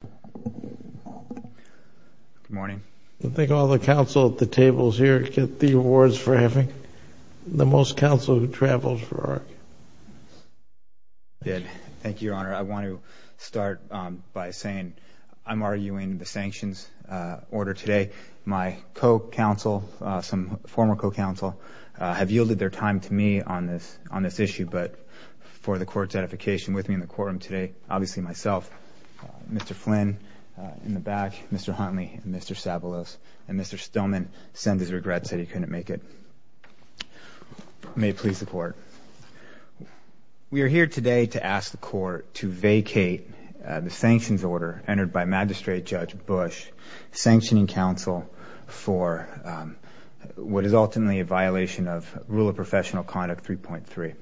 Good morning. I think all the counsel at the tables here get the awards for having the most counsel who travels for ARC. Thank you, Your Honor. I want to start by saying I'm arguing the sanctions order today. My co-counsel, some former co-counsel, have yielded their time to me on this issue, but for the Court's edification with me in the courtroom today, obviously myself, Mr. Flynn in the back, Mr. Huntley, Mr. Savalos, and Mr. Stillman, send his regrets that he couldn't make it. May it please the Court. We are here today to ask the Court to vacate the sanctions order entered by Magistrate Judge Bush, sanctioning counsel for what is ultimately a violation of Rule of Professional Conduct 3.3.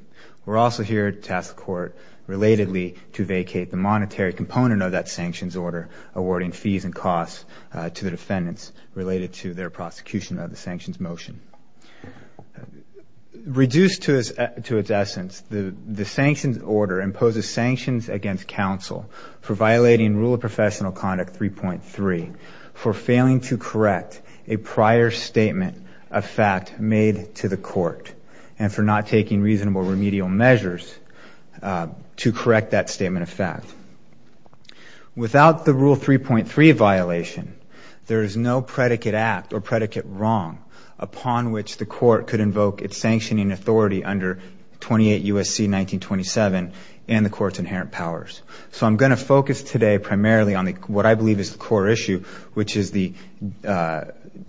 We're also here to ask the Court relatedly to vacate the monetary component of that sanctions order, awarding fees and costs to the defendants related to their prosecution of the sanctions motion. Reduced to its essence, the sanctions order imposes sanctions against counsel for violating Rule of Professional Conduct 3.3, for failing to correct a prior statement of fact made to the Court, and for not taking reasonable remedial measures to correct that statement of fact. Without the Rule 3.3 violation, there is no predicate act or predicate wrong upon which the Court could invoke its sanctioning authority under 28 U.S.C. 1927 and the Court's inherent powers. So I'm going to focus today primarily on what I believe is the core issue, which is the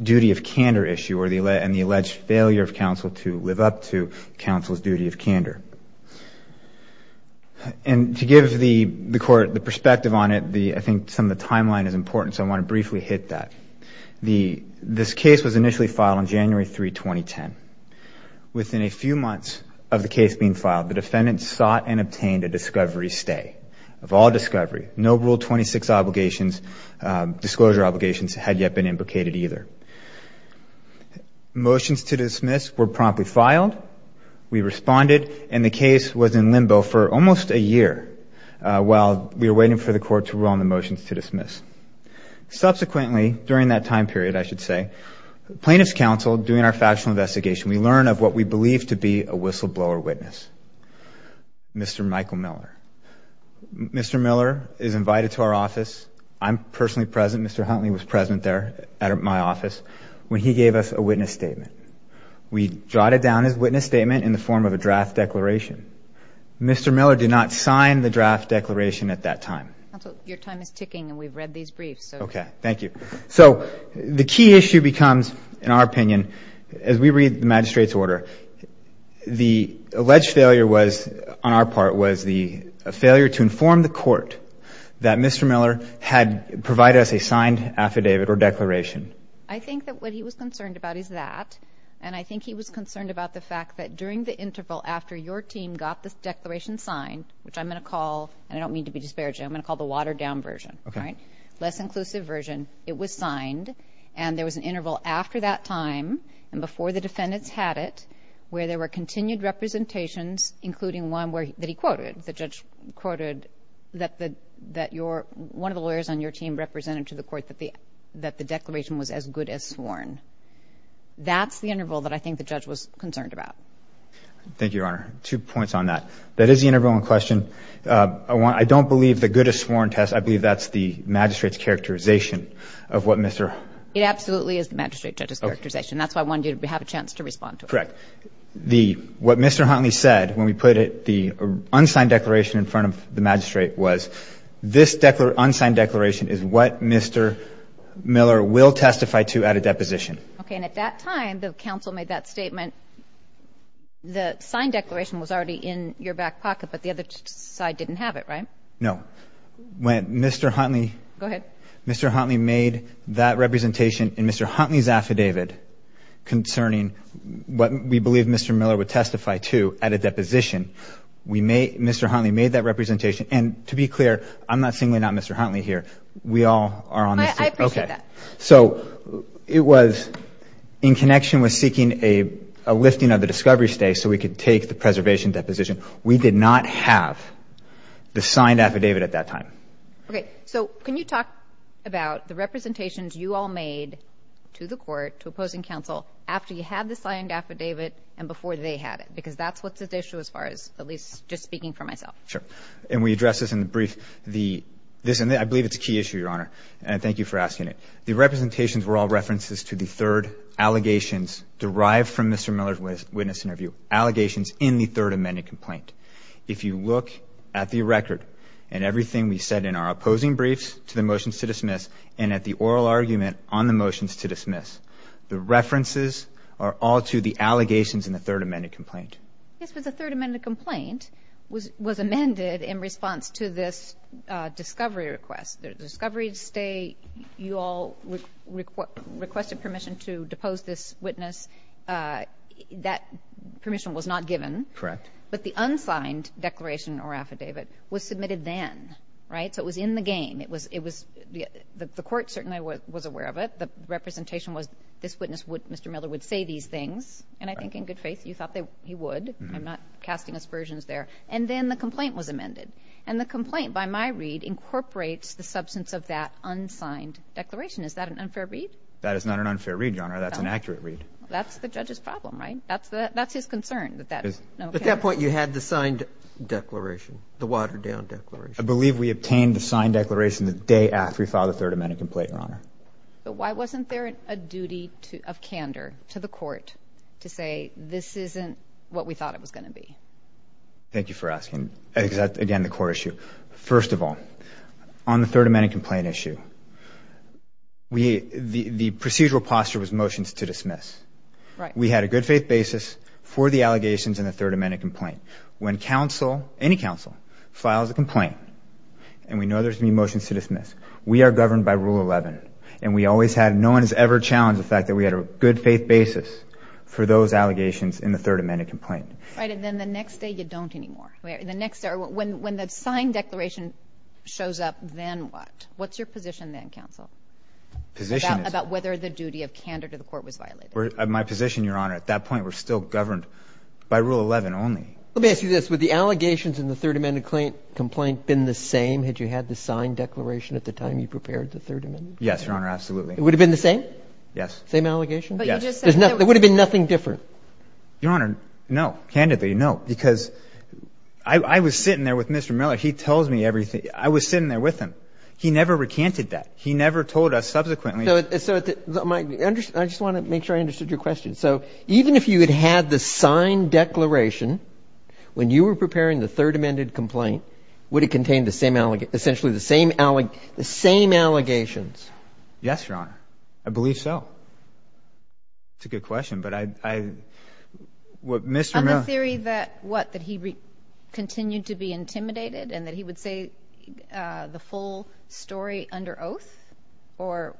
duty of candor issue and the alleged failure of counsel to live up to counsel's duty of candor. And to give the Court the perspective on it, I think some of the timeline is important, so I want to briefly hit that. This case was initially filed on January 3, 2010. Within a few months of the case being filed, the defendants sought and obtained a discovery stay. Of all discovery, no Rule 26 disclosure obligations had yet been implicated either. Motions to dismiss were promptly filed. We responded, and the case was in limbo for almost a year while we were waiting for the Court to rule on the motions to dismiss. Subsequently, during that time period, I should say, plaintiff's counsel, doing our factual investigation, we learn of what we believe to be a whistleblower witness, Mr. Michael Miller. Mr. Miller is invited to our office. I'm personally present. Mr. Huntley was present there at my office when he gave us a witness statement. We jotted down his witness statement in the form of a draft declaration. Mr. Miller did not sign the draft declaration at that time. Counsel, your time is ticking, and we've read these briefs. Okay, thank you. So the key issue becomes, in our opinion, as we read the magistrate's order, the alleged failure was, on our part, was the failure to inform the Court that Mr. Miller had provided us a signed affidavit or declaration. I think that what he was concerned about is that, and I think he was concerned about the fact that during the interval after your team got this declaration signed, which I'm going to call, and I don't mean to be disparaging, I'm going to call the watered-down version, less inclusive version, it was signed, and there was an interval after that time and before the defendants had it where there were continued representations, including one that he quoted, the judge quoted, that one of the lawyers on your team represented to the Court that the declaration was as good as sworn. That's the interval that I think the judge was concerned about. Thank you, Your Honor. Two points on that. That is the interval in question. I don't believe the good as sworn test, I believe that's the magistrate's characterization of what Mr. Huntley said. It absolutely is the magistrate judge's characterization. That's why I wanted you to have a chance to respond to it. Correct. What Mr. Huntley said when we put the unsigned declaration in front of the magistrate was this unsigned declaration is what Mr. Miller will testify to at a deposition. Okay, and at that time, the counsel made that statement. The signed declaration was already in your back pocket, but the other side didn't have it, right? No. When Mr. Huntley made that representation in Mr. Huntley's affidavit concerning what we believe Mr. Miller would testify to at a deposition, Mr. Huntley made that representation. And to be clear, I'm not saying we're not Mr. Huntley here. We all are on this team. I appreciate that. So it was in connection with seeking a lifting of the discovery stay so we could take the preservation deposition. We did not have the signed affidavit at that time. Okay, so can you talk about the representations you all made to the court, to opposing counsel, after you had the signed affidavit and before they had it? Because that's what's at issue as far as at least just speaking for myself. Sure, and we addressed this in the brief. I believe it's a key issue, Your Honor, and thank you for asking it. The representations were all references to the third allegations derived from Mr. Miller's witness interview, allegations in the third amended complaint. If you look at the record and everything we said in our opposing briefs the references are all to the allegations in the third amended complaint. Yes, but the third amended complaint was amended in response to this discovery request. The discovery stay, you all requested permission to depose this witness. That permission was not given. Correct. But the unsigned declaration or affidavit was submitted then, right? So it was in the game. The court certainly was aware of it. The representation was this witness, Mr. Miller, would say these things, and I think in good faith you thought he would. I'm not casting aspersions there. And then the complaint was amended, and the complaint by my read incorporates the substance of that unsigned declaration. Is that an unfair read? That is not an unfair read, Your Honor. That's an accurate read. That's the judge's problem, right? That's his concern. At that point you had the signed declaration, the watered-down declaration. I believe we obtained the signed declaration the day after we filed the third amended complaint, Your Honor. But why wasn't there a duty of candor to the court to say this isn't what we thought it was going to be? Thank you for asking. Again, the court issue. First of all, on the third amended complaint issue, the procedural posture was motions to dismiss. We had a good faith basis for the allegations in the third amended complaint. When counsel, any counsel, files a complaint and we know there's going to be motions to dismiss, we are governed by Rule 11, and we always had, no one has ever challenged the fact that we had a good faith basis for those allegations in the third amended complaint. Right, and then the next day you don't anymore. The next day, when the signed declaration shows up, then what? What's your position then, counsel? Position is? About whether the duty of candor to the court was violated. My position, Your Honor, at that point we're still governed by Rule 11 only. Let me ask you this. Would the allegations in the third amended complaint been the same had you had the signed declaration at the time you prepared the third amended complaint? Yes, Your Honor, absolutely. It would have been the same? Yes. Same allegations? Yes. There would have been nothing different? Your Honor, no. Candidly, no. Because I was sitting there with Mr. Miller. He tells me everything. I was sitting there with him. He never recanted that. He never told us subsequently. So I just want to make sure I understood your question. So even if you had had the signed declaration when you were preparing the third amended complaint, would it contain essentially the same allegations? Yes, Your Honor. I believe so. It's a good question, but I — On the theory that what? That he continued to be intimidated and that he would say the full story under oath or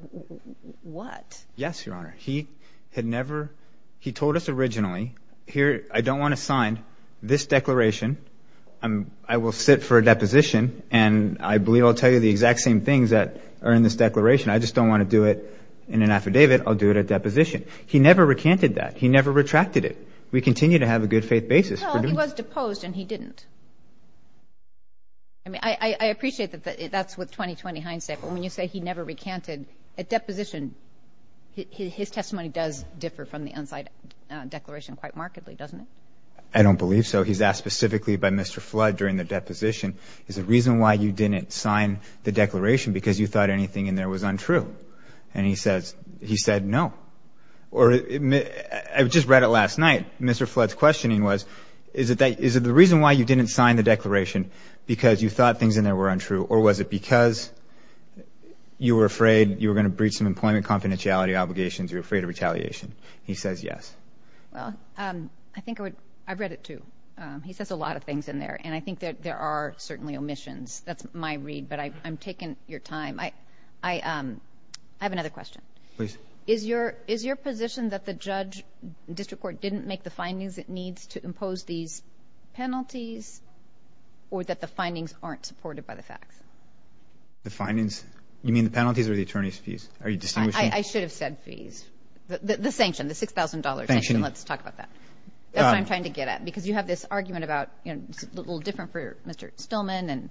what? Yes, Your Honor. He had never — he told us originally, here, I don't want to sign this declaration. I will sit for a deposition, and I believe I'll tell you the exact same things that are in this declaration. I just don't want to do it in an affidavit. I'll do it at deposition. He never recanted that. He never retracted it. We continue to have a good-faith basis. Well, he was deposed, and he didn't. I mean, I appreciate that that's with 20-20 hindsight. But when you say he never recanted, at deposition, his testimony does differ from the unsigned declaration quite markedly, doesn't it? I don't believe so. He's asked specifically by Mr. Flood during the deposition, is the reason why you didn't sign the declaration because you thought anything in there was untrue? And he says — he said no. Or I just read it last night. Mr. Flood's questioning was, is it the reason why you didn't sign the declaration because you thought things in there were untrue, or was it because you were afraid you were going to breach some employment confidentiality obligations, you were afraid of retaliation? He says yes. Well, I think I would — I've read it too. He says a lot of things in there, and I think that there are certainly omissions. That's my read, but I'm taking your time. I have another question. Please. Is your position that the judge, district court, didn't make the findings it needs to impose these penalties, or that the findings aren't supported by the facts? The findings? You mean the penalties or the attorney's fees? Are you distinguishing? I should have said fees. The sanction, the $6,000 sanction. Let's talk about that. That's what I'm trying to get at, because you have this argument about — it's a little different for Mr. Stillman,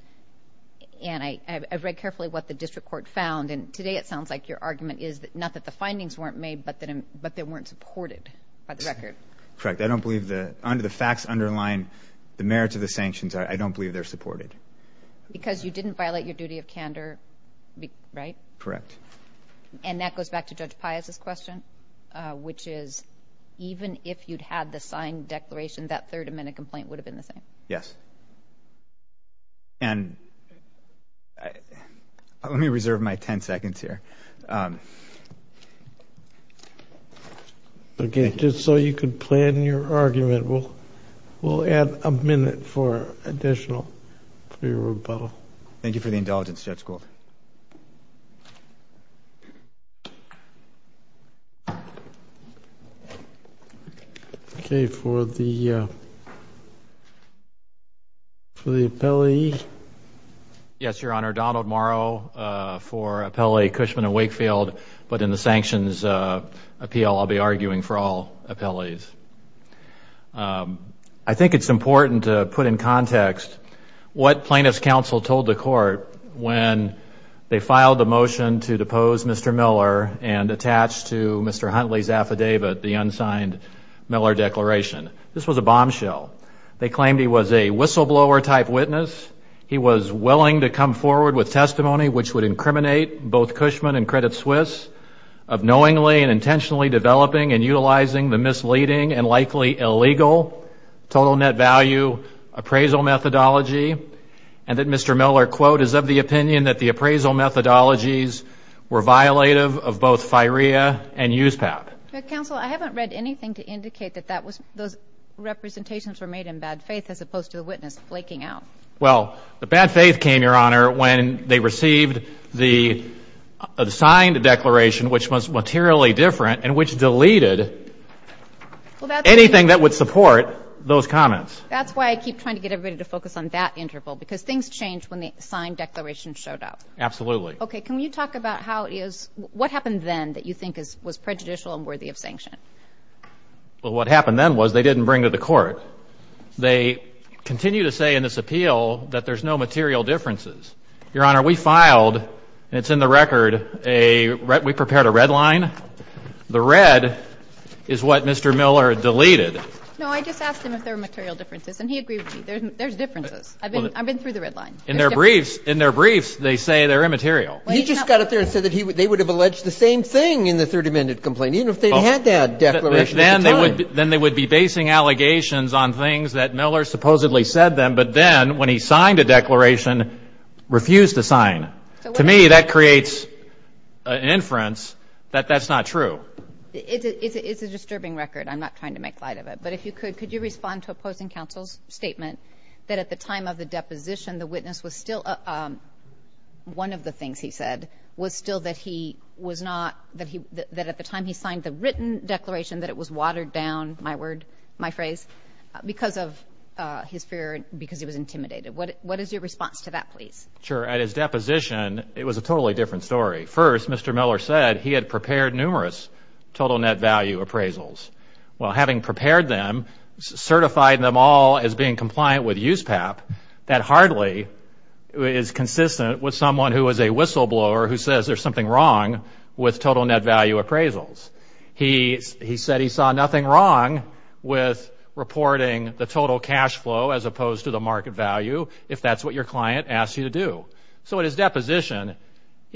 and I've read carefully what the district court found, and today it sounds like your argument is not that the findings weren't made, but that they weren't supported by the record. Correct. I don't believe the facts underline the merits of the sanctions. I don't believe they're supported. Because you didn't violate your duty of candor, right? Correct. And that goes back to Judge Pius's question, which is even if you'd had the signed declaration, that third amendment complaint would have been the same? Yes. And let me reserve my 10 seconds here. Okay. Just so you could plan your argument, we'll add a minute for additional for your rebuttal. Thank you for the indulgence, Judge Gould. Okay. For the appellee? Yes, Your Honor. Donald Morrow for Appellee Cushman and Wakefield. But in the sanctions appeal, I'll be arguing for all appellees. I think it's important to put in context what plaintiff's counsel told the court when they filed the motion to depose Mr. Miller and attach to Mr. Huntley's affidavit the unsigned Miller declaration. This was a bombshell. They claimed he was a whistleblower-type witness. He was willing to come forward with testimony which would incriminate both Cushman and Credit Suisse of knowingly and intentionally developing and utilizing the misleading and likely illegal total net value appraisal methodology, and that Mr. Miller, quote, is of the opinion that the appraisal methodologies were violative of both FIREA and USPAP. Counsel, I haven't read anything to indicate that those representations were made in bad faith as opposed to the witness flaking out. Well, the bad faith came, Your Honor, when they received the signed declaration, which was materially different and which deleted anything that would support those comments. That's why I keep trying to get everybody to focus on that interval, because things change when the signed declaration showed up. Absolutely. Okay, can you talk about how it is, what happened then that you think was prejudicial and worthy of sanction? They continue to say in this appeal that there's no material differences. Your Honor, we filed, and it's in the record, we prepared a red line. The red is what Mr. Miller deleted. No, I just asked him if there were material differences, and he agreed with me. There's differences. I've been through the red line. In their briefs, they say they're immaterial. He just got up there and said that they would have alleged the same thing in the Third Amendment complaint, even if they'd had that declaration at the time. Then they would be basing allegations on things that Miller supposedly said to them, but then when he signed a declaration, refused to sign. To me, that creates an inference that that's not true. It's a disturbing record. I'm not trying to make light of it. But if you could, could you respond to opposing counsel's statement that at the time of the deposition, the witness was still, one of the things he said was still that he was not, that at the time he signed the written declaration that it was watered down, my word, my phrase, because of his fear, because he was intimidated. What is your response to that, please? Sure. At his deposition, it was a totally different story. First, Mr. Miller said he had prepared numerous total net value appraisals. Well, having prepared them, certified them all as being compliant with USPAP, that hardly is consistent with someone who is a whistleblower who says there's something wrong with total net value appraisals. He said he saw nothing wrong with reporting the total cash flow as opposed to the market value, if that's what your client asked you to do. So at his deposition,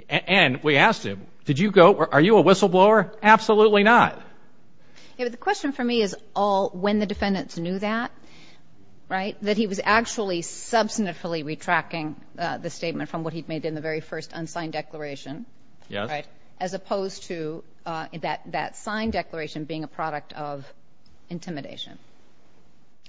and we asked him, did you go, are you a whistleblower? Absolutely not. Yeah, but the question for me is all when the defendants knew that, right, that he was actually substantively retracting the statement from what he'd made in the very first unsigned declaration, right, as opposed to that signed declaration being a product of intimidation.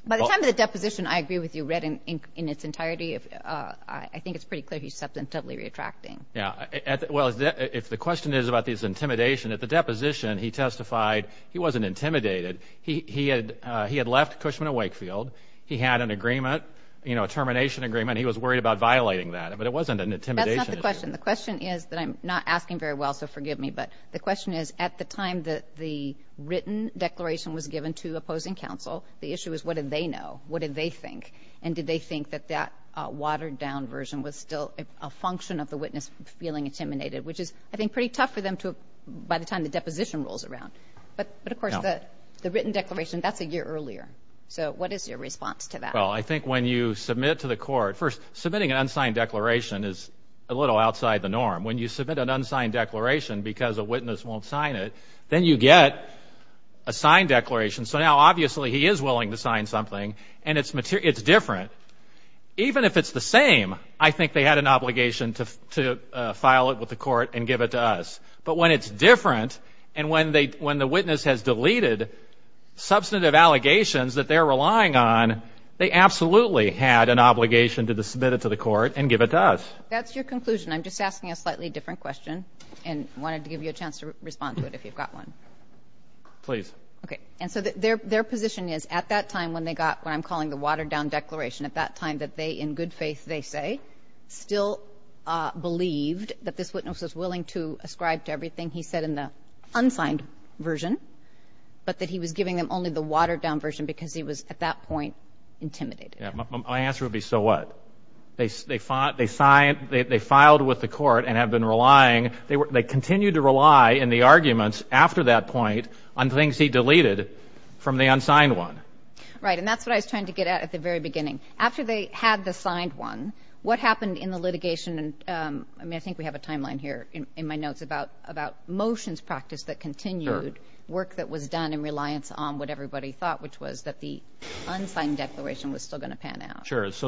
By the time the deposition, I agree with you, read in its entirety, I think it's pretty clear he's substantively retracting. Yeah. Well, if the question is about his intimidation, at the deposition he testified he wasn't intimidated. He had left Cushman & Wakefield. He had an agreement, you know, a termination agreement. He was worried about violating that. But it wasn't an intimidation issue. That's not the question. The question is that I'm not asking very well, so forgive me, but the question is at the time that the written declaration was given to opposing counsel, the issue is what did they know, what did they think, and did they think that that watered-down version was still a function of the witness feeling intimidated, which is, I think, pretty tough for them to, by the time the deposition rolls around. But, of course, the written declaration, that's a year earlier. So what is your response to that? Well, I think when you submit to the court, first, submitting an unsigned declaration is a little outside the norm. When you submit an unsigned declaration because a witness won't sign it, then you get a signed declaration. So now, obviously, he is willing to sign something, and it's different. Even if it's the same, I think they had an obligation to file it with the court and give it to us. But when it's different and when the witness has deleted substantive allegations that they're relying on, they absolutely had an obligation to submit it to the court and give it to us. That's your conclusion. I'm just asking a slightly different question and wanted to give you a chance to respond to it if you've got one. Please. Okay. And so their position is at that time when they got what I'm calling the watered-down declaration, in good faith, they say, still believed that this witness was willing to ascribe to everything he said in the unsigned version, but that he was giving them only the watered-down version because he was, at that point, intimidated. My answer would be, so what? They filed with the court and have been relying. They continued to rely in the arguments after that point on things he deleted from the unsigned one. Right. And that's what I was trying to get at at the very beginning. After they had the signed one, what happened in the litigation? I mean, I think we have a timeline here in my notes about motions practiced that continued work that was done in reliance on what everybody thought, which was that the unsigned declaration was still going to pan out. Sure. So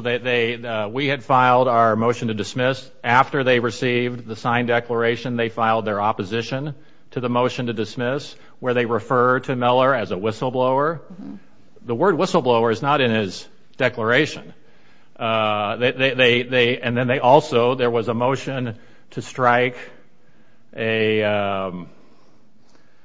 we had filed our motion to dismiss. After they received the signed declaration, they filed their opposition to the motion to dismiss, where they referred to Miller as a whistleblower. The word whistleblower is not in his declaration. And then they also, there was a motion to strike a,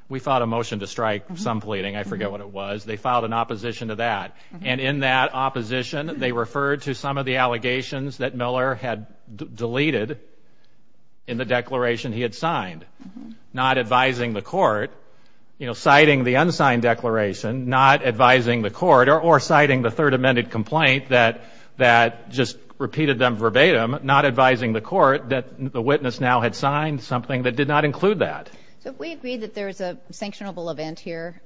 we filed a motion to strike some pleading. I forget what it was. They filed an opposition to that. And in that opposition, they referred to some of the allegations that Miller had deleted in the declaration he had signed, not advising the court, you know, citing the unsigned declaration, not advising the court, or citing the third amended complaint that just repeated them verbatim, not advising the court that the witness now had signed something that did not include that. So if we agree that there is a sanctionable event here,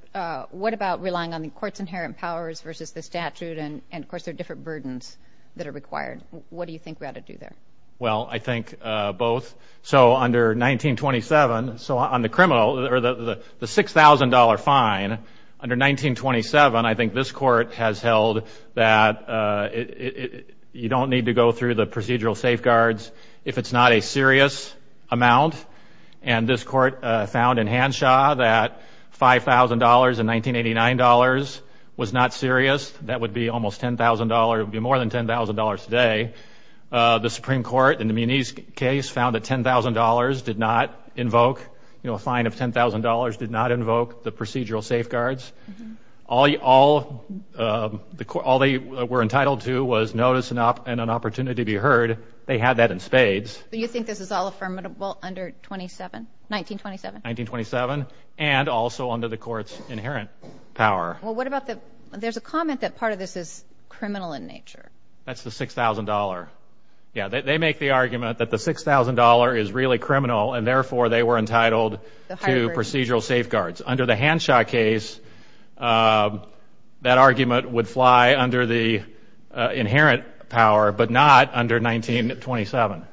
what about relying on the court's inherent powers versus the statute? And, of course, there are different burdens that are required. What do you think we ought to do there? Well, I think both. So under 1927, so on the criminal, or the $6,000 fine, under 1927, I think this court has held that you don't need to go through the procedural safeguards if it's not a serious amount. And this court found in Hanshaw that $5,000 in 1989 dollars was not serious. That would be almost $10,000. It would be more than $10,000 today. The Supreme Court, in the Muniz case, found that $10,000 did not invoke, you know, a fine of $10,000 did not invoke the procedural safeguards. All they were entitled to was notice and an opportunity to be heard. They had that in spades. But you think this is all affirmable under 1927? 1927, and also under the court's inherent power. Well, what about the – there's a comment that part of this is criminal in nature. That's the $6,000. Yeah, they make the argument that the $6,000 is really criminal, and therefore they were entitled to procedural safeguards. Under the Hanshaw case, that argument would fly under the inherent power, but not under 1927.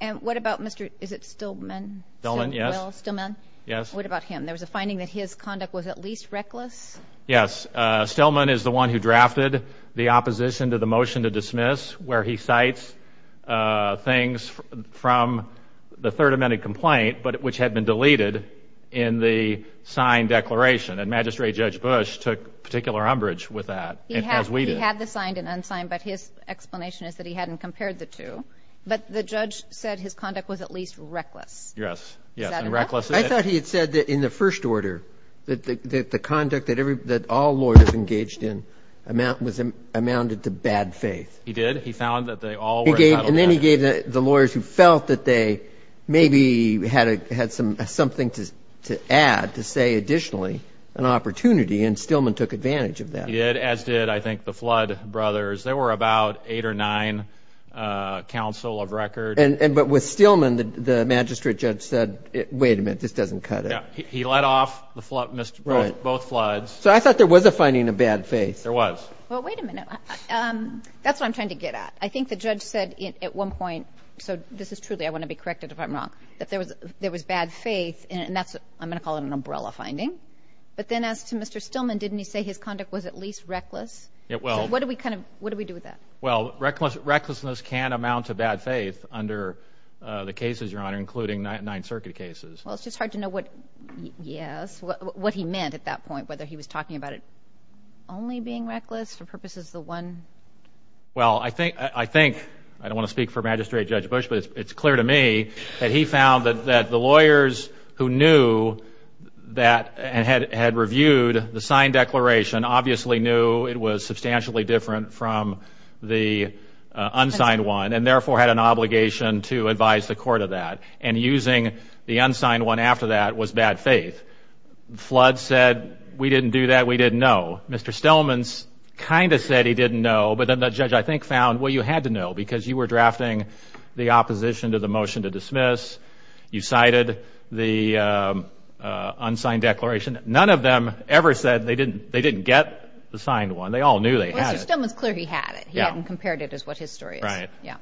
And what about Mr. – is it Stillman? Stillman, yes. Stillman? Yes. What about him? There was a finding that his conduct was at least reckless. Yes. Stillman is the one who drafted the opposition to the motion to dismiss, where he cites things from the Third Amendment complaint, which had been deleted in the signed declaration. And Magistrate Judge Bush took particular umbrage with that, as we did. He had the signed and unsigned, but his explanation is that he hadn't compared the two. But the judge said his conduct was at least reckless. Yes. Is that enough? The conduct that all lawyers engaged in amounted to bad faith. He did. He found that they all were entitled to that. And then he gave the lawyers who felt that they maybe had something to add, to say additionally, an opportunity, and Stillman took advantage of that. He did, as did, I think, the Flood brothers. They were about eight or nine counsel of record. But with Stillman, the magistrate judge said, wait a minute, this doesn't cut it. He let off both floods. So I thought there was a finding of bad faith. There was. Well, wait a minute. That's what I'm trying to get at. I think the judge said at one point, so this is truly, I want to be corrected if I'm wrong, that there was bad faith, and I'm going to call it an umbrella finding. But then as to Mr. Stillman, didn't he say his conduct was at least reckless? It will. So what do we do with that? Well, recklessness can amount to bad faith under the cases, Your Honor, including Ninth Circuit cases. Well, it's just hard to know what, yes, what he meant at that point, whether he was talking about it only being reckless for purposes of the one. Well, I think, I don't want to speak for Magistrate Judge Bush, but it's clear to me that he found that the lawyers who knew that and had reviewed the signed declaration obviously knew it was substantially different from the unsigned one and therefore had an obligation to advise the court of that. And using the unsigned one after that was bad faith. Flood said, we didn't do that, we didn't know. Mr. Stillman kind of said he didn't know, but then the judge, I think, found, well, you had to know because you were drafting the opposition to the motion to dismiss. You cited the unsigned declaration. None of them ever said they didn't get the signed one. They all knew they had it. Well, Mr. Stillman's clear he had it. He hadn't compared it as what his story is. Right. Yeah.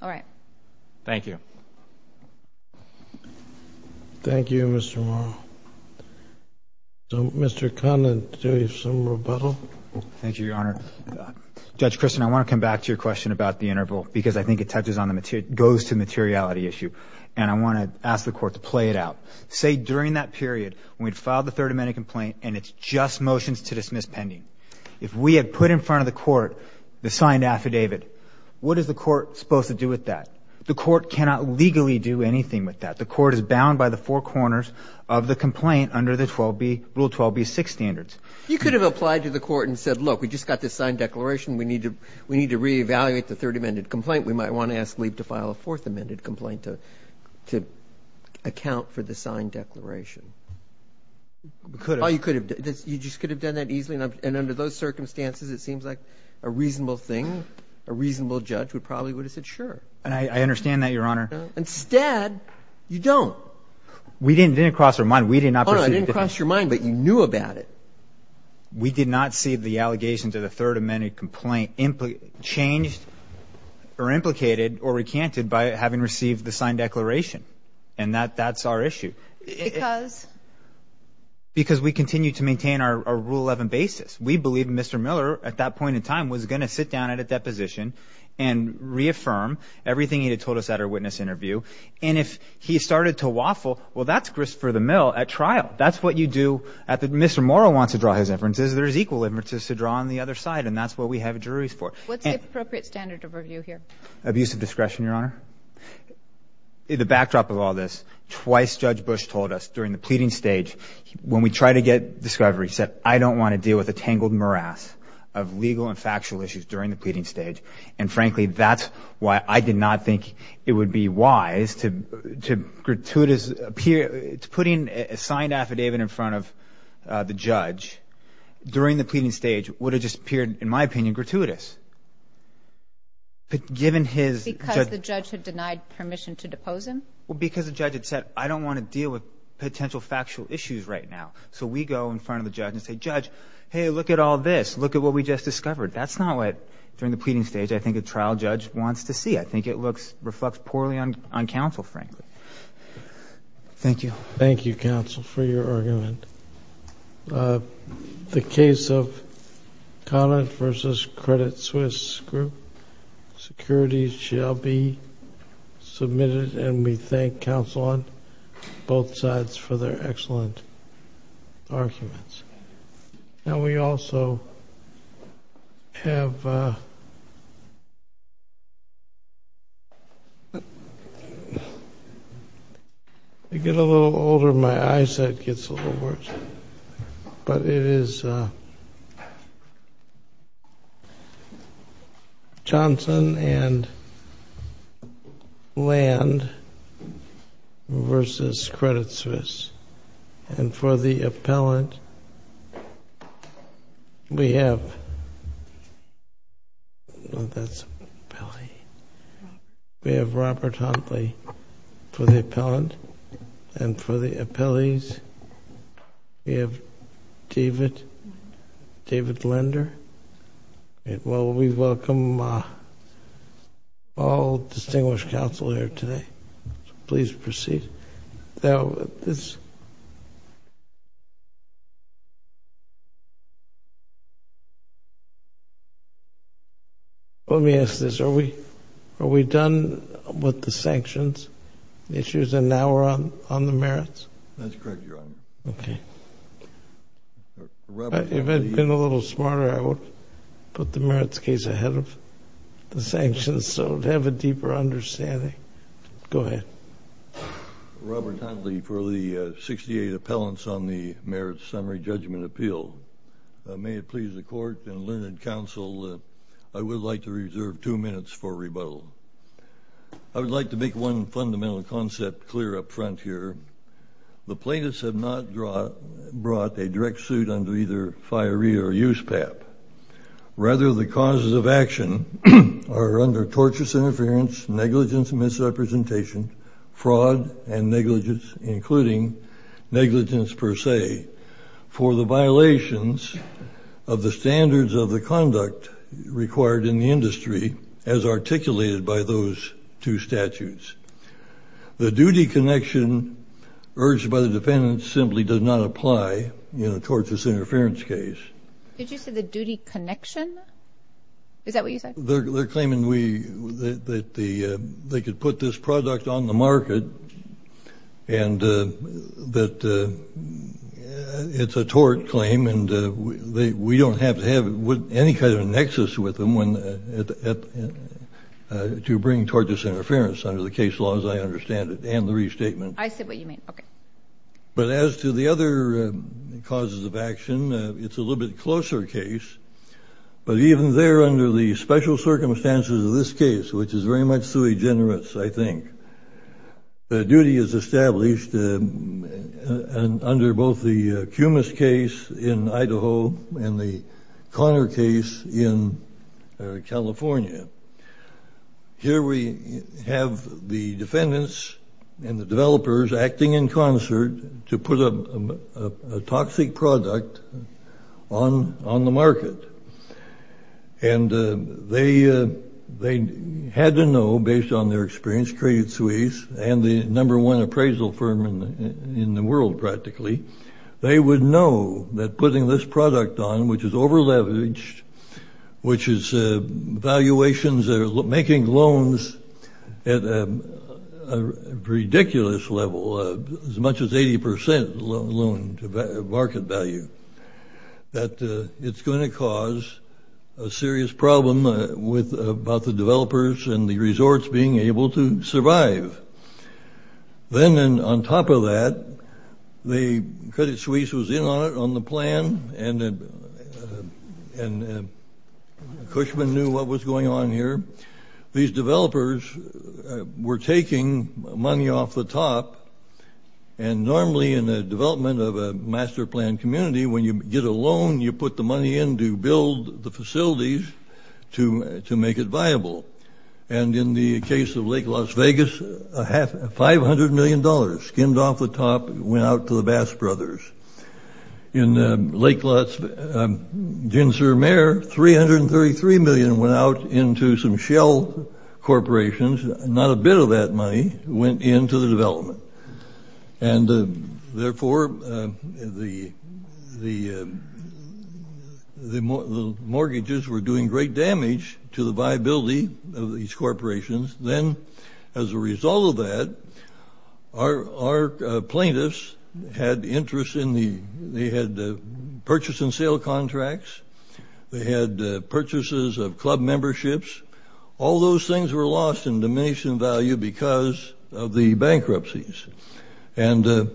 All right. Thank you. Thank you, Mr. Morrow. Mr. Conlon, do you have some rebuttal? Thank you, Your Honor. Judge Christin, I want to come back to your question about the interval because I think it goes to the materiality issue. And I want to ask the Court to play it out. Say during that period when we'd filed the Third Amendment complaint and it's just motions to dismiss pending. If we had put in front of the Court the signed affidavit, what is the Court supposed to do with that? The Court cannot legally do anything with that. The Court is bound by the four corners of the complaint under the Rule 12b-6 standards. You could have applied to the Court and said, Look, we just got this signed declaration. We need to reevaluate the Third Amendment complaint. We might want to ask Lee to file a Fourth Amendment complaint to account for the signed declaration. We could have. Oh, you could have. You just could have done that easily. And under those circumstances, it seems like a reasonable thing, a reasonable judge would probably would have said sure. And I understand that, Your Honor. Instead, you don't. We didn't cross our mind. We did not proceed. Oh, no, it didn't cross your mind, but you knew about it. We did not see the allegation to the Third Amendment complaint changed or implicated or recanted by having received the signed declaration. And that's our issue. Because? Because we continue to maintain our Rule 11 basis. We believe Mr. Miller, at that point in time, was going to sit down at a deposition and reaffirm everything he had told us at our witness interview. And if he started to waffle, well, that's grist for the mill at trial. That's what you do. Mr. Morrow wants to draw his inferences. There's equal inferences to draw on the other side, and that's what we have juries for. What's the appropriate standard of review here? Abusive discretion, Your Honor. The backdrop of all this, twice Judge Bush told us during the pleading stage, when we tried to get discovery, he said, I don't want to deal with a tangled morass of legal and factual issues during the pleading stage. And, frankly, that's why I did not think it would be wise to put a signed affidavit in front of the judge during the pleading stage. It would have just appeared, in my opinion, gratuitous. Because the judge had denied permission to depose him? Well, because the judge had said, I don't want to deal with potential factual issues right now. So we go in front of the judge and say, Judge, hey, look at all this. Look at what we just discovered. That's not what, during the pleading stage, I think a trial judge wants to see. I think it reflects poorly on counsel, frankly. Thank you. Thank you, counsel, for your argument. The case of Conant v. Credit Swiss Group, securities shall be submitted, and we thank counsel on both sides for their excellent arguments. Now, we also have to get a little older. My eyesight gets a little worse. But it is Johnson and Land v. Credit Swiss. And for the appellant, we have Robert Huntley. For the appellant and for the appellees, we have David Linder. Well, we welcome all distinguished counsel here today. Please proceed. Now, let me ask this. Are we done with the sanctions issues and now we're on the merits? That's correct, Your Honor. Okay. If I had been a little smarter, I would have put the merits case ahead of the sanctions so to have a deeper understanding. Okay. Go ahead. Robert Huntley for the 68 appellants on the merits summary judgment appeal. May it please the Court and Linder and counsel, I would like to reserve two minutes for rebuttal. I would like to make one fundamental concept clear up front here. The plaintiffs have not brought a direct suit under either FIREE or USPAP. Rather, the causes of action are under torturous interference, negligence and misrepresentation, fraud and negligence, including negligence per se, for the violations of the standards of the conduct required in the industry as articulated by those two statutes. The duty connection urged by the defendant simply does not apply in a torturous interference case. Did you say the duty connection? Is that what you said? They're claiming that they could put this product on the market and that it's a tort claim and we don't have to have any kind of a nexus with them to bring tortuous interference under the case laws, I understand it, and the restatement. I see what you mean. Okay. But as to the other causes of action, it's a little bit closer case. But even there, under the special circumstances of this case, which is very much sui generis, I think, the duty is established under both the Cumas case in Idaho and the Connor case in California. Here we have the defendants and the developers acting in concert to put a toxic product on the market. And they had to know, based on their experience, traded suites, and the number one appraisal firm in the world, practically, they would know that putting this product on, which is over leveraged, which is valuations that are making loans at a ridiculous level, as much as 80% loan market value, that it's going to cause a serious problem about the developers and the resorts being able to survive. Then, on top of that, the Credit Suisse was in on it, on the plan, and Cushman knew what was going on here. These developers were taking money off the top, and normally in the development of a master plan community, when you get a loan, you put the money in to build the facilities to make it viable. And in the case of Lake Las Vegas, $500 million skimmed off the top, went out to the Bass Brothers. In Lake Las Vegas, Gin-Sur-Mer, $333 million went out into some shell corporations. Not a bit of that money went into the development. And therefore, the mortgages were doing great damage to the viability of these corporations. Then, as a result of that, our plaintiffs had interest in the... They had purchase and sale contracts. They had purchases of club memberships. All those things were lost in diminishing value because of the bankruptcies. And the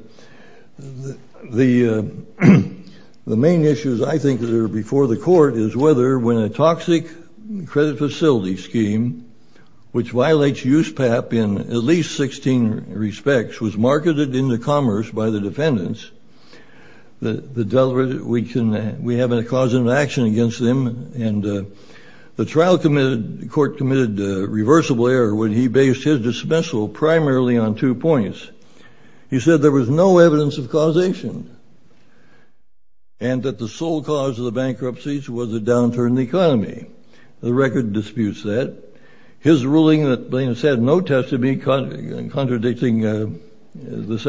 main issues, I think, that are before the court is whether, when a toxic credit facility scheme, which violates USPAP in at least 16 respects, was marketed into commerce by the defendants, that we have a cause and action against them. The trial court committed a reversible error when he based his dismissal primarily on two points. He said there was no evidence of causation and that the sole cause of the bankruptcies was a downturn in the economy. The record disputes that. His ruling that plaintiffs had no testimony contradicting... defense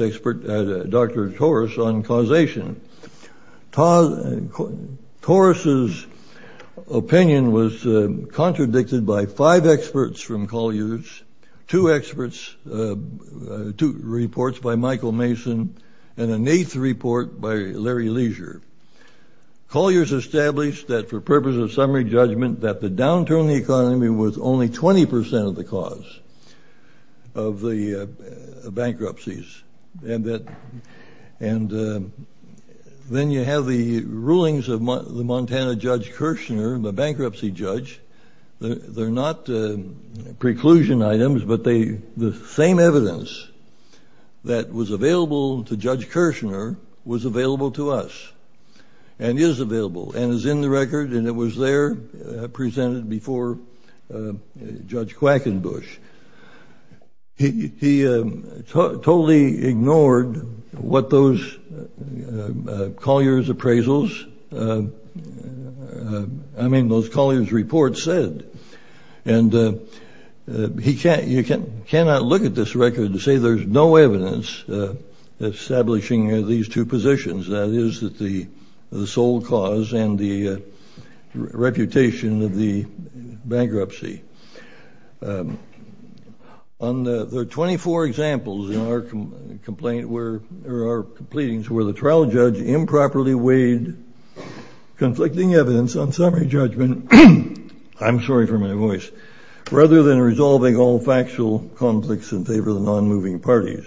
expert, Dr. Taurus, on causation. Taurus's opinion was contradicted by five experts from Collier's, two experts, two reports by Michael Mason, and an eighth report by Larry Leisure. Collier's established that, for purposes of summary judgment, that the downturn in the economy was only 20% of the cause of the bankruptcies. Then you have the rulings of the Montana Judge Kirshner, the bankruptcy judge. They're not preclusion items, but the same evidence that was available to Judge Kirshner was available to us, and is available, and is in the record, and it was there presented before Judge Quackenbush. He totally ignored what those Collier's appraisals... I mean, those Collier's reports said. And you cannot look at this record and say there's no evidence establishing these two positions. That is the sole cause and the reputation of the bankruptcy. There are 24 examples in our completings where the trial judge improperly weighed conflicting evidence on summary judgment, I'm sorry for my voice, rather than resolving all factual conflicts in favor of the non-moving parties.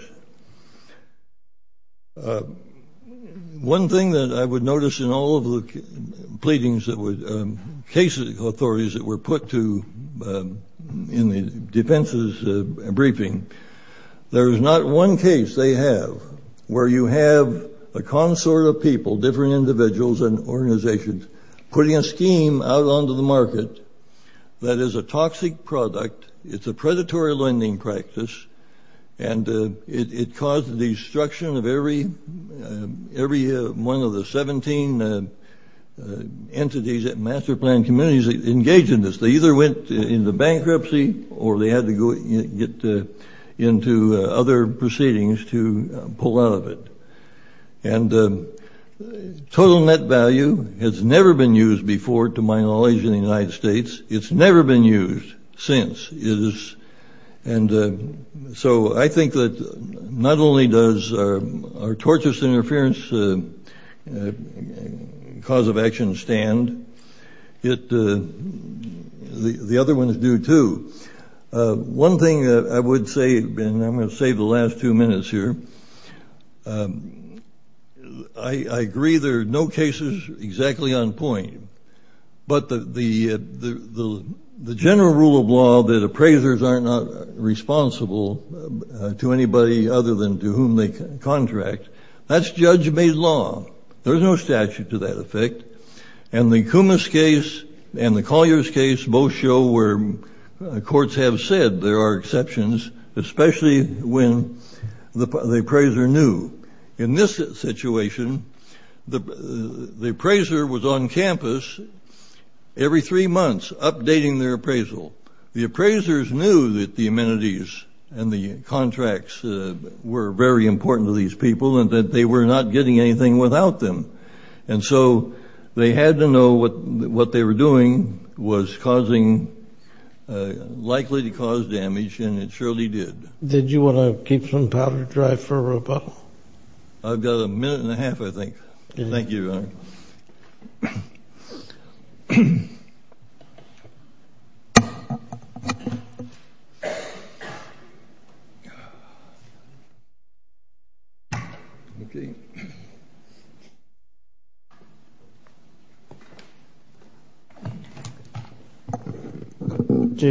One thing that I would notice in all of the cases, authorities that were put in the defense's briefing, there is not one case they have where you have a consort of people, different individuals and organizations, putting a scheme out onto the market that is a toxic product, it's a predatory lending practice, and it caused the destruction of every one of the 17 entities, master plan communities that engaged in this. They either went into bankruptcy, or they had to get into other proceedings to pull out of it. And total net value has never been used before, to my knowledge, in the United States. It's never been used since. And so I think that not only does our tortious interference cause of action stand, the other one is due too. One thing I would say, and I'm going to save the last two minutes here, I agree there are no cases exactly on point, but the general rule of law that appraisers are not responsible to anybody other than to whom they contract, that's judge-made law. There's no statute to that effect. And the Kumis case and the Collier's case both show where courts have said there are exceptions, especially when the appraiser knew. In this situation, the appraiser was on campus every three months updating their appraisal. The appraisers knew that the amenities and the contracts were very important to these people and that they were not getting anything without them. And so they had to know what they were doing was likely to cause damage, and it surely did. Did you want to keep some powder dry for a rebuttal? I've got a minute and a half, I think. Okay.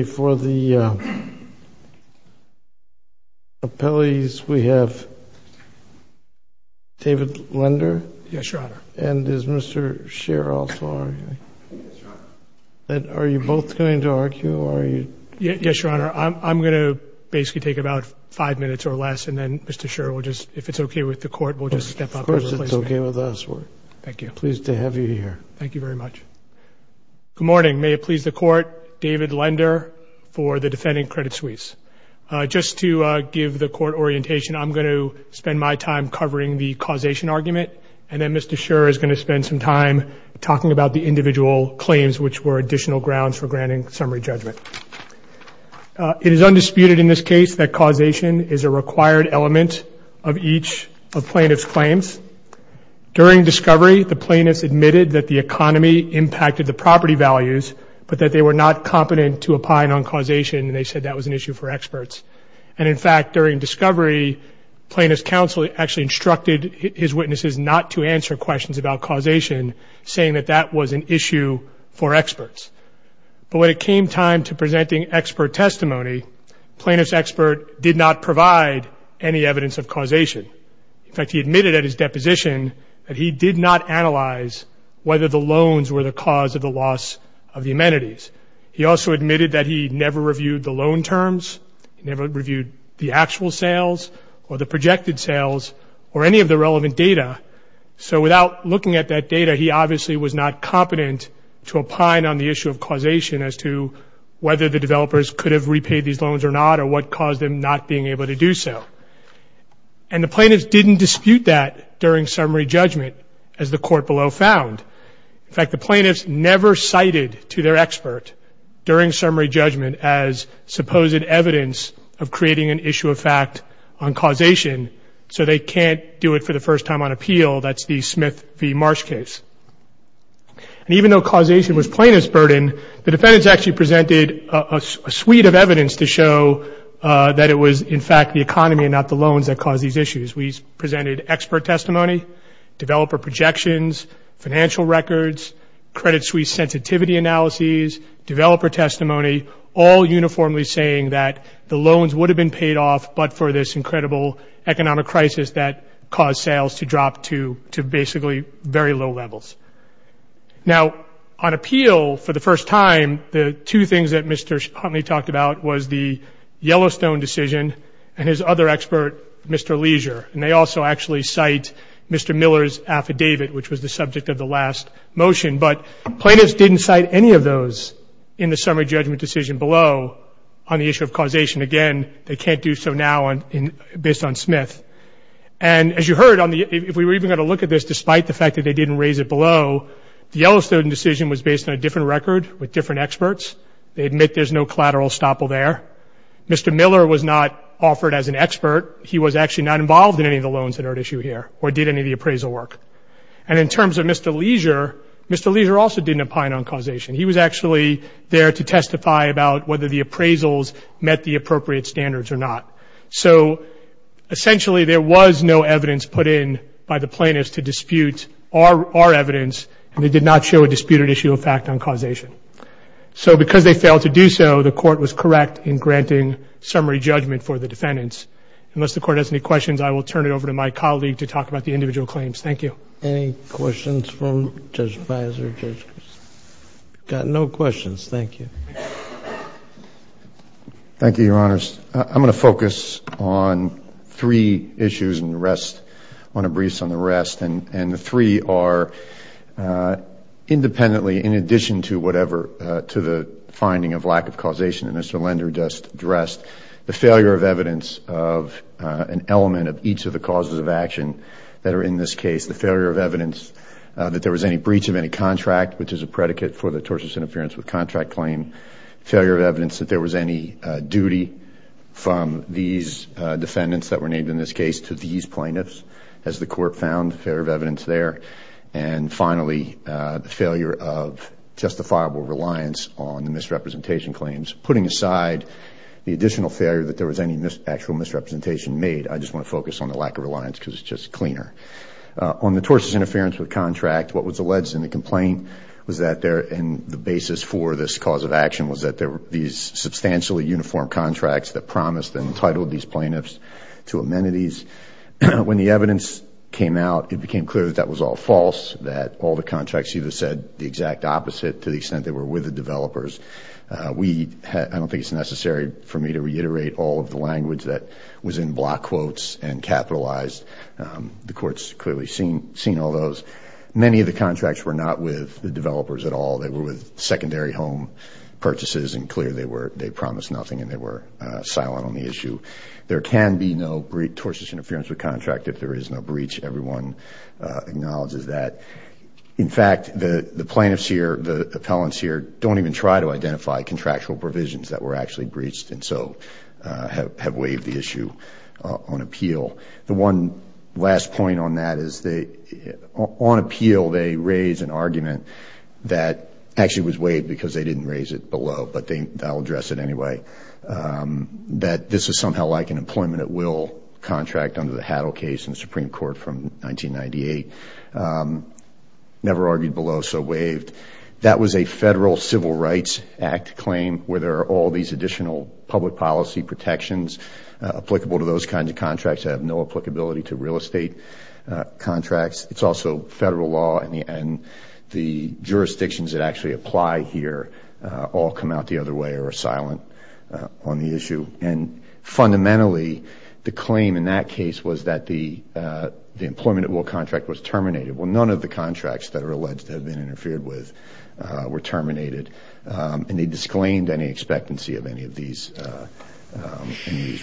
For the appellees, we have David Lender. Yes, Your Honor. And is Mr. Scherer also arguing? Yes, Your Honor. And are you both going to argue, or are you? Yes, Your Honor. I'm going to basically take about five minutes or less, and then Mr. Scherer will just, if it's okay with the Court, will just step up and replace me. Of course it's okay with us. Thank you. We're pleased to have you here. Thank you very much. Good morning. May it please the Court, David Lender for the Defending Credit Suisse. Just to give the Court orientation, I'm going to spend my time covering the causation argument, and then Mr. Scherer is going to spend some time talking about the individual claims, which were additional grounds for granting summary judgment. It is undisputed in this case that causation is a required element of each of plaintiff's claims. During discovery, the plaintiffs admitted that the economy impacted the property values, but that they were not competent to opine on causation, and they said that was an issue for experts. And, in fact, during discovery, plaintiff's counsel actually instructed his witnesses not to answer questions about causation, saying that that was an issue for experts. But when it came time to presenting expert testimony, plaintiff's expert did not provide any evidence of causation. In fact, he admitted at his deposition that he did not analyze whether the loans were the cause of the loss of the amenities. He also admitted that he never reviewed the loan terms. He never reviewed the actual sales or the projected sales or any of the relevant data. So without looking at that data, he obviously was not competent to opine on the issue of causation as to whether the developers could have repaid these loans or not or what caused them not being able to do so. And the plaintiffs didn't dispute that during summary judgment, as the court below found. In fact, the plaintiffs never cited to their expert during summary judgment as supposed evidence of creating an issue of fact on causation, so they can't do it for the first time on appeal. That's the Smith v. Marsh case. And even though causation was plaintiff's burden, the defendants actually presented a suite of evidence to show that it was, in fact, the economy and not the loans that caused these issues. We presented expert testimony, developer projections, financial records, credit suite sensitivity analyses, developer testimony, all uniformly saying that the loans would have been paid off, but for this incredible economic crisis that caused sales to drop to basically very low levels. Now, on appeal, for the first time, the two things that Mr. Huntley talked about was the Yellowstone decision and his other expert, Mr. Leisure. And they also actually cite Mr. Miller's affidavit, which was the subject of the last motion. But plaintiffs didn't cite any of those in the summary judgment decision below on the issue of causation. Again, they can't do so now based on Smith. And as you heard, if we were even going to look at this, despite the fact that they didn't raise it below, the Yellowstone decision was based on a different record with different experts. They admit there's no collateral estoppel there. Mr. Miller was not offered as an expert. He was actually not involved in any of the loans that are at issue here or did any of the appraisal work. And in terms of Mr. Leisure, Mr. Leisure also didn't opine on causation. He was actually there to testify about whether the appraisals met the appropriate standards or not. So, essentially, there was no evidence put in by the plaintiffs to dispute our evidence. And they did not show a disputed issue of fact on causation. So because they failed to do so, the Court was correct in granting summary judgment for the defendants. Unless the Court has any questions, I will turn it over to my colleague to talk about the individual claims. Thank you. Any questions from Judge Fizer? We've got no questions. Thank you. Thank you, Your Honors. I'm going to focus on three issues and rest on a brief on the rest. And the three are independently, in addition to whatever, to the finding of lack of causation that Mr. Lender just addressed, the failure of evidence of an element of each of the causes of action that are in this case, the failure of evidence that there was any breach of any contract, which is a predicate for the tortious interference with contract claim, failure of evidence that there was any duty from these defendants that were named in this case to these plaintiffs, as the Court found failure of evidence there, and finally the failure of justifiable reliance on the misrepresentation claims. Putting aside the additional failure that there was any actual misrepresentation made, I just want to focus on the lack of reliance because it's just cleaner. On the tortious interference with contract, what was alleged in the complaint was that the basis for this cause of action was that there were these substantially uniform contracts that promised and entitled these plaintiffs to amenities. When the evidence came out, it became clear that that was all false, that all the contracts either said the exact opposite to the extent they were with the developers. I don't think it's necessary for me to reiterate all of the language that was in block quotes and capitalized. The Court's clearly seen all those. Many of the contracts were not with the developers at all. They were with secondary home purchases and clear they promised nothing and they were silent on the issue. There can be no tortious interference with contract if there is no breach. Everyone acknowledges that. In fact, the plaintiffs here, the appellants here, don't even try to identify contractual provisions that were actually breached and so have waived the issue on appeal. The one last point on that is on appeal they raise an argument that actually was waived because they didn't raise it below, but they'll address it anyway, that this is somehow like an employment at will contract under the Haddell case in the Supreme Court from 1998. Never argued below, so waived. That was a Federal Civil Rights Act claim where there are all these additional public policy protections applicable to those kinds of contracts that have no applicability to real estate contracts. It's also Federal law and the jurisdictions that actually apply here all come out the other way or are silent on the issue. And fundamentally, the claim in that case was that the employment at will contract was terminated. Well, none of the contracts that are alleged to have been interfered with were terminated and they disclaimed any expectancy of any of these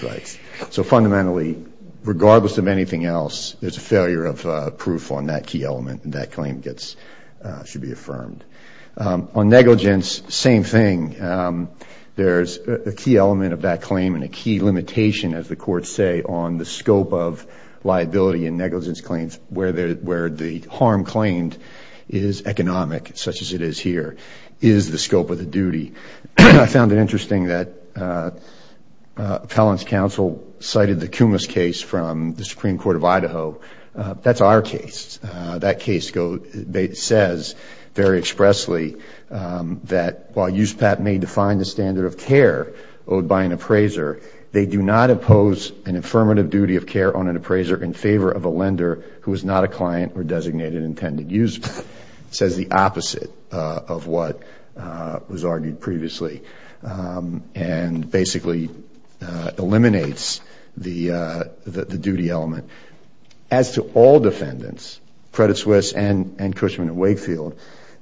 rights. So fundamentally, regardless of anything else, there's a failure of proof on that key element and that claim should be affirmed. On negligence, same thing. There's a key element of that claim and a key limitation, as the courts say, on the scope of liability and negligence claims where the harm claimed is economic, such as it is here. It is the scope of the duty. I found it interesting that appellant's counsel cited the Kumis case from the Supreme Court of Idaho. That's our case. That case says very expressly that while USPAT may define the standard of care owed by an appraiser, they do not oppose an affirmative duty of care on an appraiser in favor of a lender who is not a client or designated intended user. It says the opposite of what was argued previously and basically eliminates the duty element. As to all defendants, Credit Suisse and Cushman and Wakefield,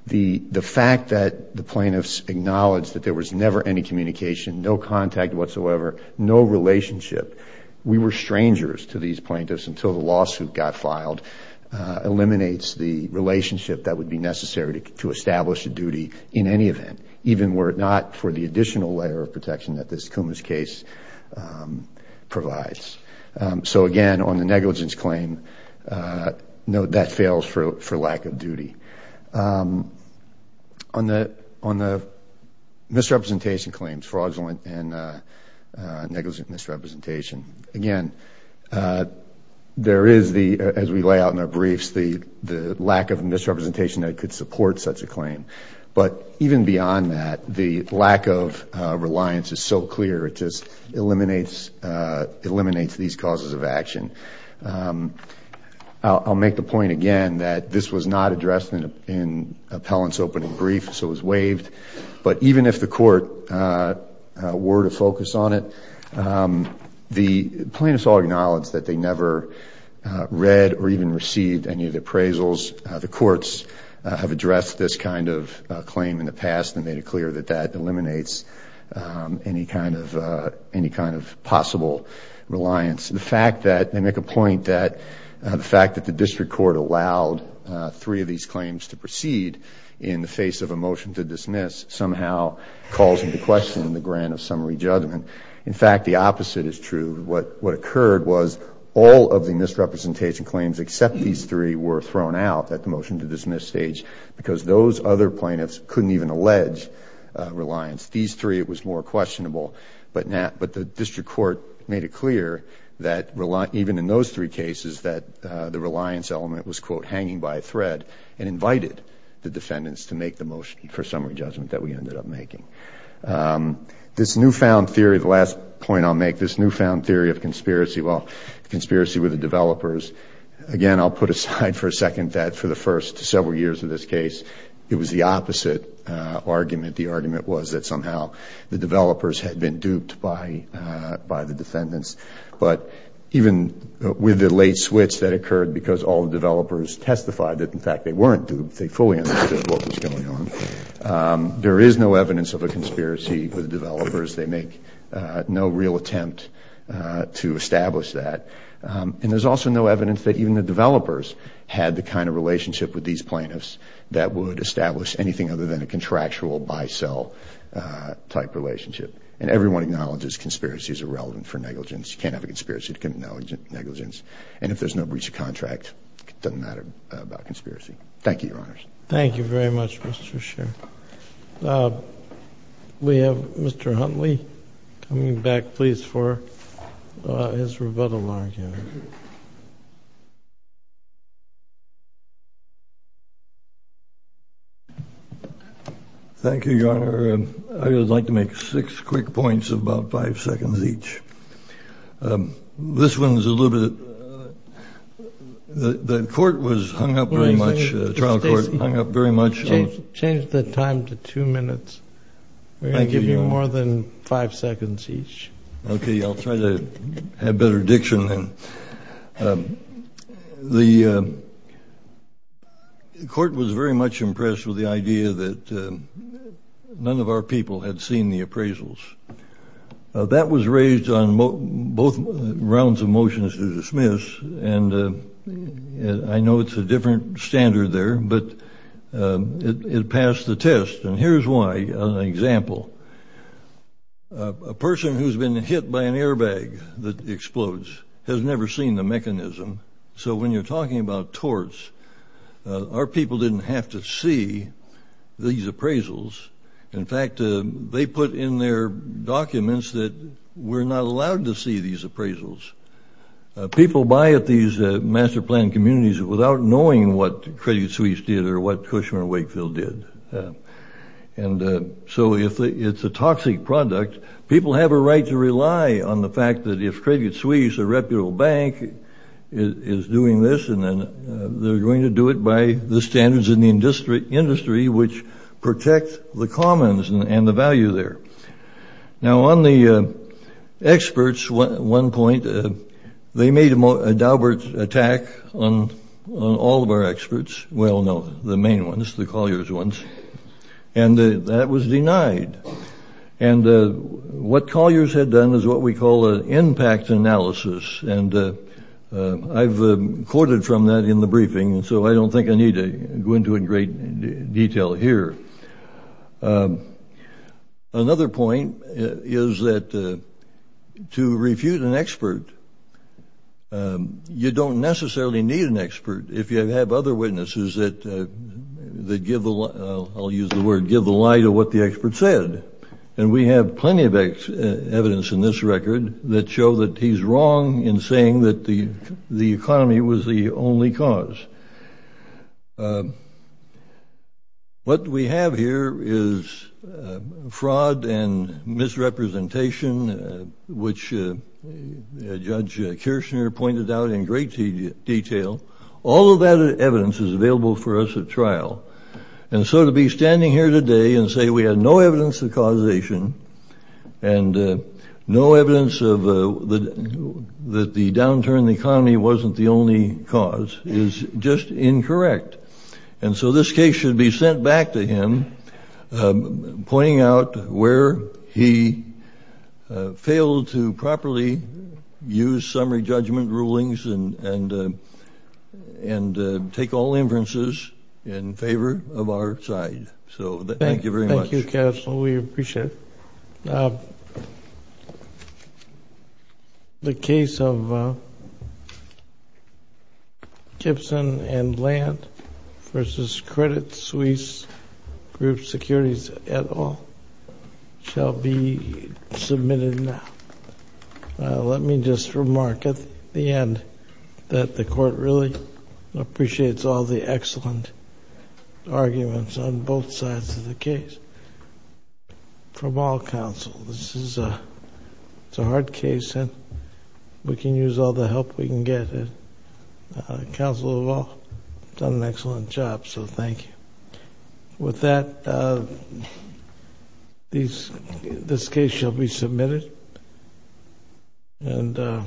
the fact that the plaintiffs acknowledged that there was never any communication, no contact whatsoever, no relationship, we were strangers to these plaintiffs until the lawsuit got filed, eliminates the relationship that would be necessary to establish a duty in any event, even were it not for the additional layer of protection that this Kumis case provides. So, again, on the negligence claim, note that fails for lack of duty. On the misrepresentation claims, fraudulent and negligent misrepresentation, again, there is, as we lay out in our briefs, the lack of misrepresentation that could support such a claim. But even beyond that, the lack of reliance is so clear, it just eliminates these causes of action. I'll make the point again that this was not addressed in appellant's opening brief, so it was waived. But even if the court were to focus on it, the plaintiffs all acknowledged that they never read or even received any of the appraisals. The courts have addressed this kind of claim in the past and made it clear that that eliminates any kind of possible reliance. The fact that they make a point that the fact that the district court allowed three of these claims to proceed in the face of a motion to dismiss somehow calls into question the grant of summary judgment. In fact, the opposite is true. What occurred was all of the misrepresentation claims except these three were thrown out at the motion to dismiss stage because those other plaintiffs couldn't even allege reliance. These three, it was more questionable. But the district court made it clear that even in those three cases that the reliance element was, quote, hanging by a thread and invited the defendants to make the motion for summary judgment that we ended up making. This newfound theory, the last point I'll make, this newfound theory of conspiracy, well, conspiracy with the developers. Again, I'll put aside for a second that for the first several years of this case, it was the opposite argument. The argument was that somehow the developers had been duped by the defendants. But even with the late switch that occurred because all the developers testified that, in fact, they weren't duped, they fully understood what was going on, there is no evidence of a conspiracy with the developers. They make no real attempt to establish that. And there's also no evidence that even the developers had the kind of relationship with these plaintiffs that would establish anything other than a contractual buy-sell type relationship. And everyone acknowledges conspiracy is irrelevant for negligence. You can't have a conspiracy to commit negligence. And if there's no breach of contract, it doesn't matter about conspiracy. Thank you, Your Honors. Thank you very much, Mr. Sherr. We have Mr. Huntley coming back, please, for his rebuttal argument. Thank you, Your Honor. I would like to make six quick points of about five seconds each. This one is a little bit – the court was hung up very much, the trial court hung up very much. Change the time to two minutes. Thank you, Your Honor. We're going to give you more than five seconds each. Okay, I'll try to have better diction then. The court was very much impressed with the idea that none of our people had seen the appraisals. That was raised on both rounds of motions to dismiss. And I know it's a different standard there, but it passed the test. And here's why, as an example. A person who's been hit by an airbag that explodes has never seen the mechanism. So when you're talking about torts, our people didn't have to see these appraisals. In fact, they put in their documents that we're not allowed to see these appraisals. People buy at these master plan communities without knowing what Credit Suisse did or what Cushman Wakefield did. And so it's a toxic product. People have a right to rely on the fact that if Credit Suisse, a reputable bank, is doing this, then they're going to do it by the standards in the industry which protect the commons and the value there. Now, on the experts, at one point, they made a Daubert attack on all of our experts. Well, no, the main ones, the Colliers ones. And that was denied. And what Colliers had done is what we call an impact analysis. And I've quoted from that in the briefing, and so I don't think I need to go into in great detail here. Another point is that to refute an expert, you don't necessarily need an expert. If you have other witnesses that give the – I'll use the word – give the lie to what the expert said. And we have plenty of evidence in this record that show that he's wrong in saying that the economy was the only cause. What we have here is fraud and misrepresentation, which Judge Kirshner pointed out in great detail. All of that evidence is available for us at trial. And so to be standing here today and say we have no evidence of causation and no evidence that the downturn in the economy wasn't the only cause is just incorrect. And so this case should be sent back to him, pointing out where he failed to properly use summary judgment rulings and take all inferences in favor of our side. So thank you very much. Thank you, Counsel. We appreciate it. The case of Gibson and Land v. Credit Suisse Group Securities et al. shall be submitted now. Let me just remark at the end that the Court really appreciates all the excellent arguments on both sides of the case from all counsel. This is a hard case, and we can use all the help we can get. The counsel of all has done an excellent job, so thank you. With that, this case shall be submitted, and the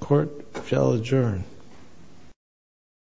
Court shall adjourn.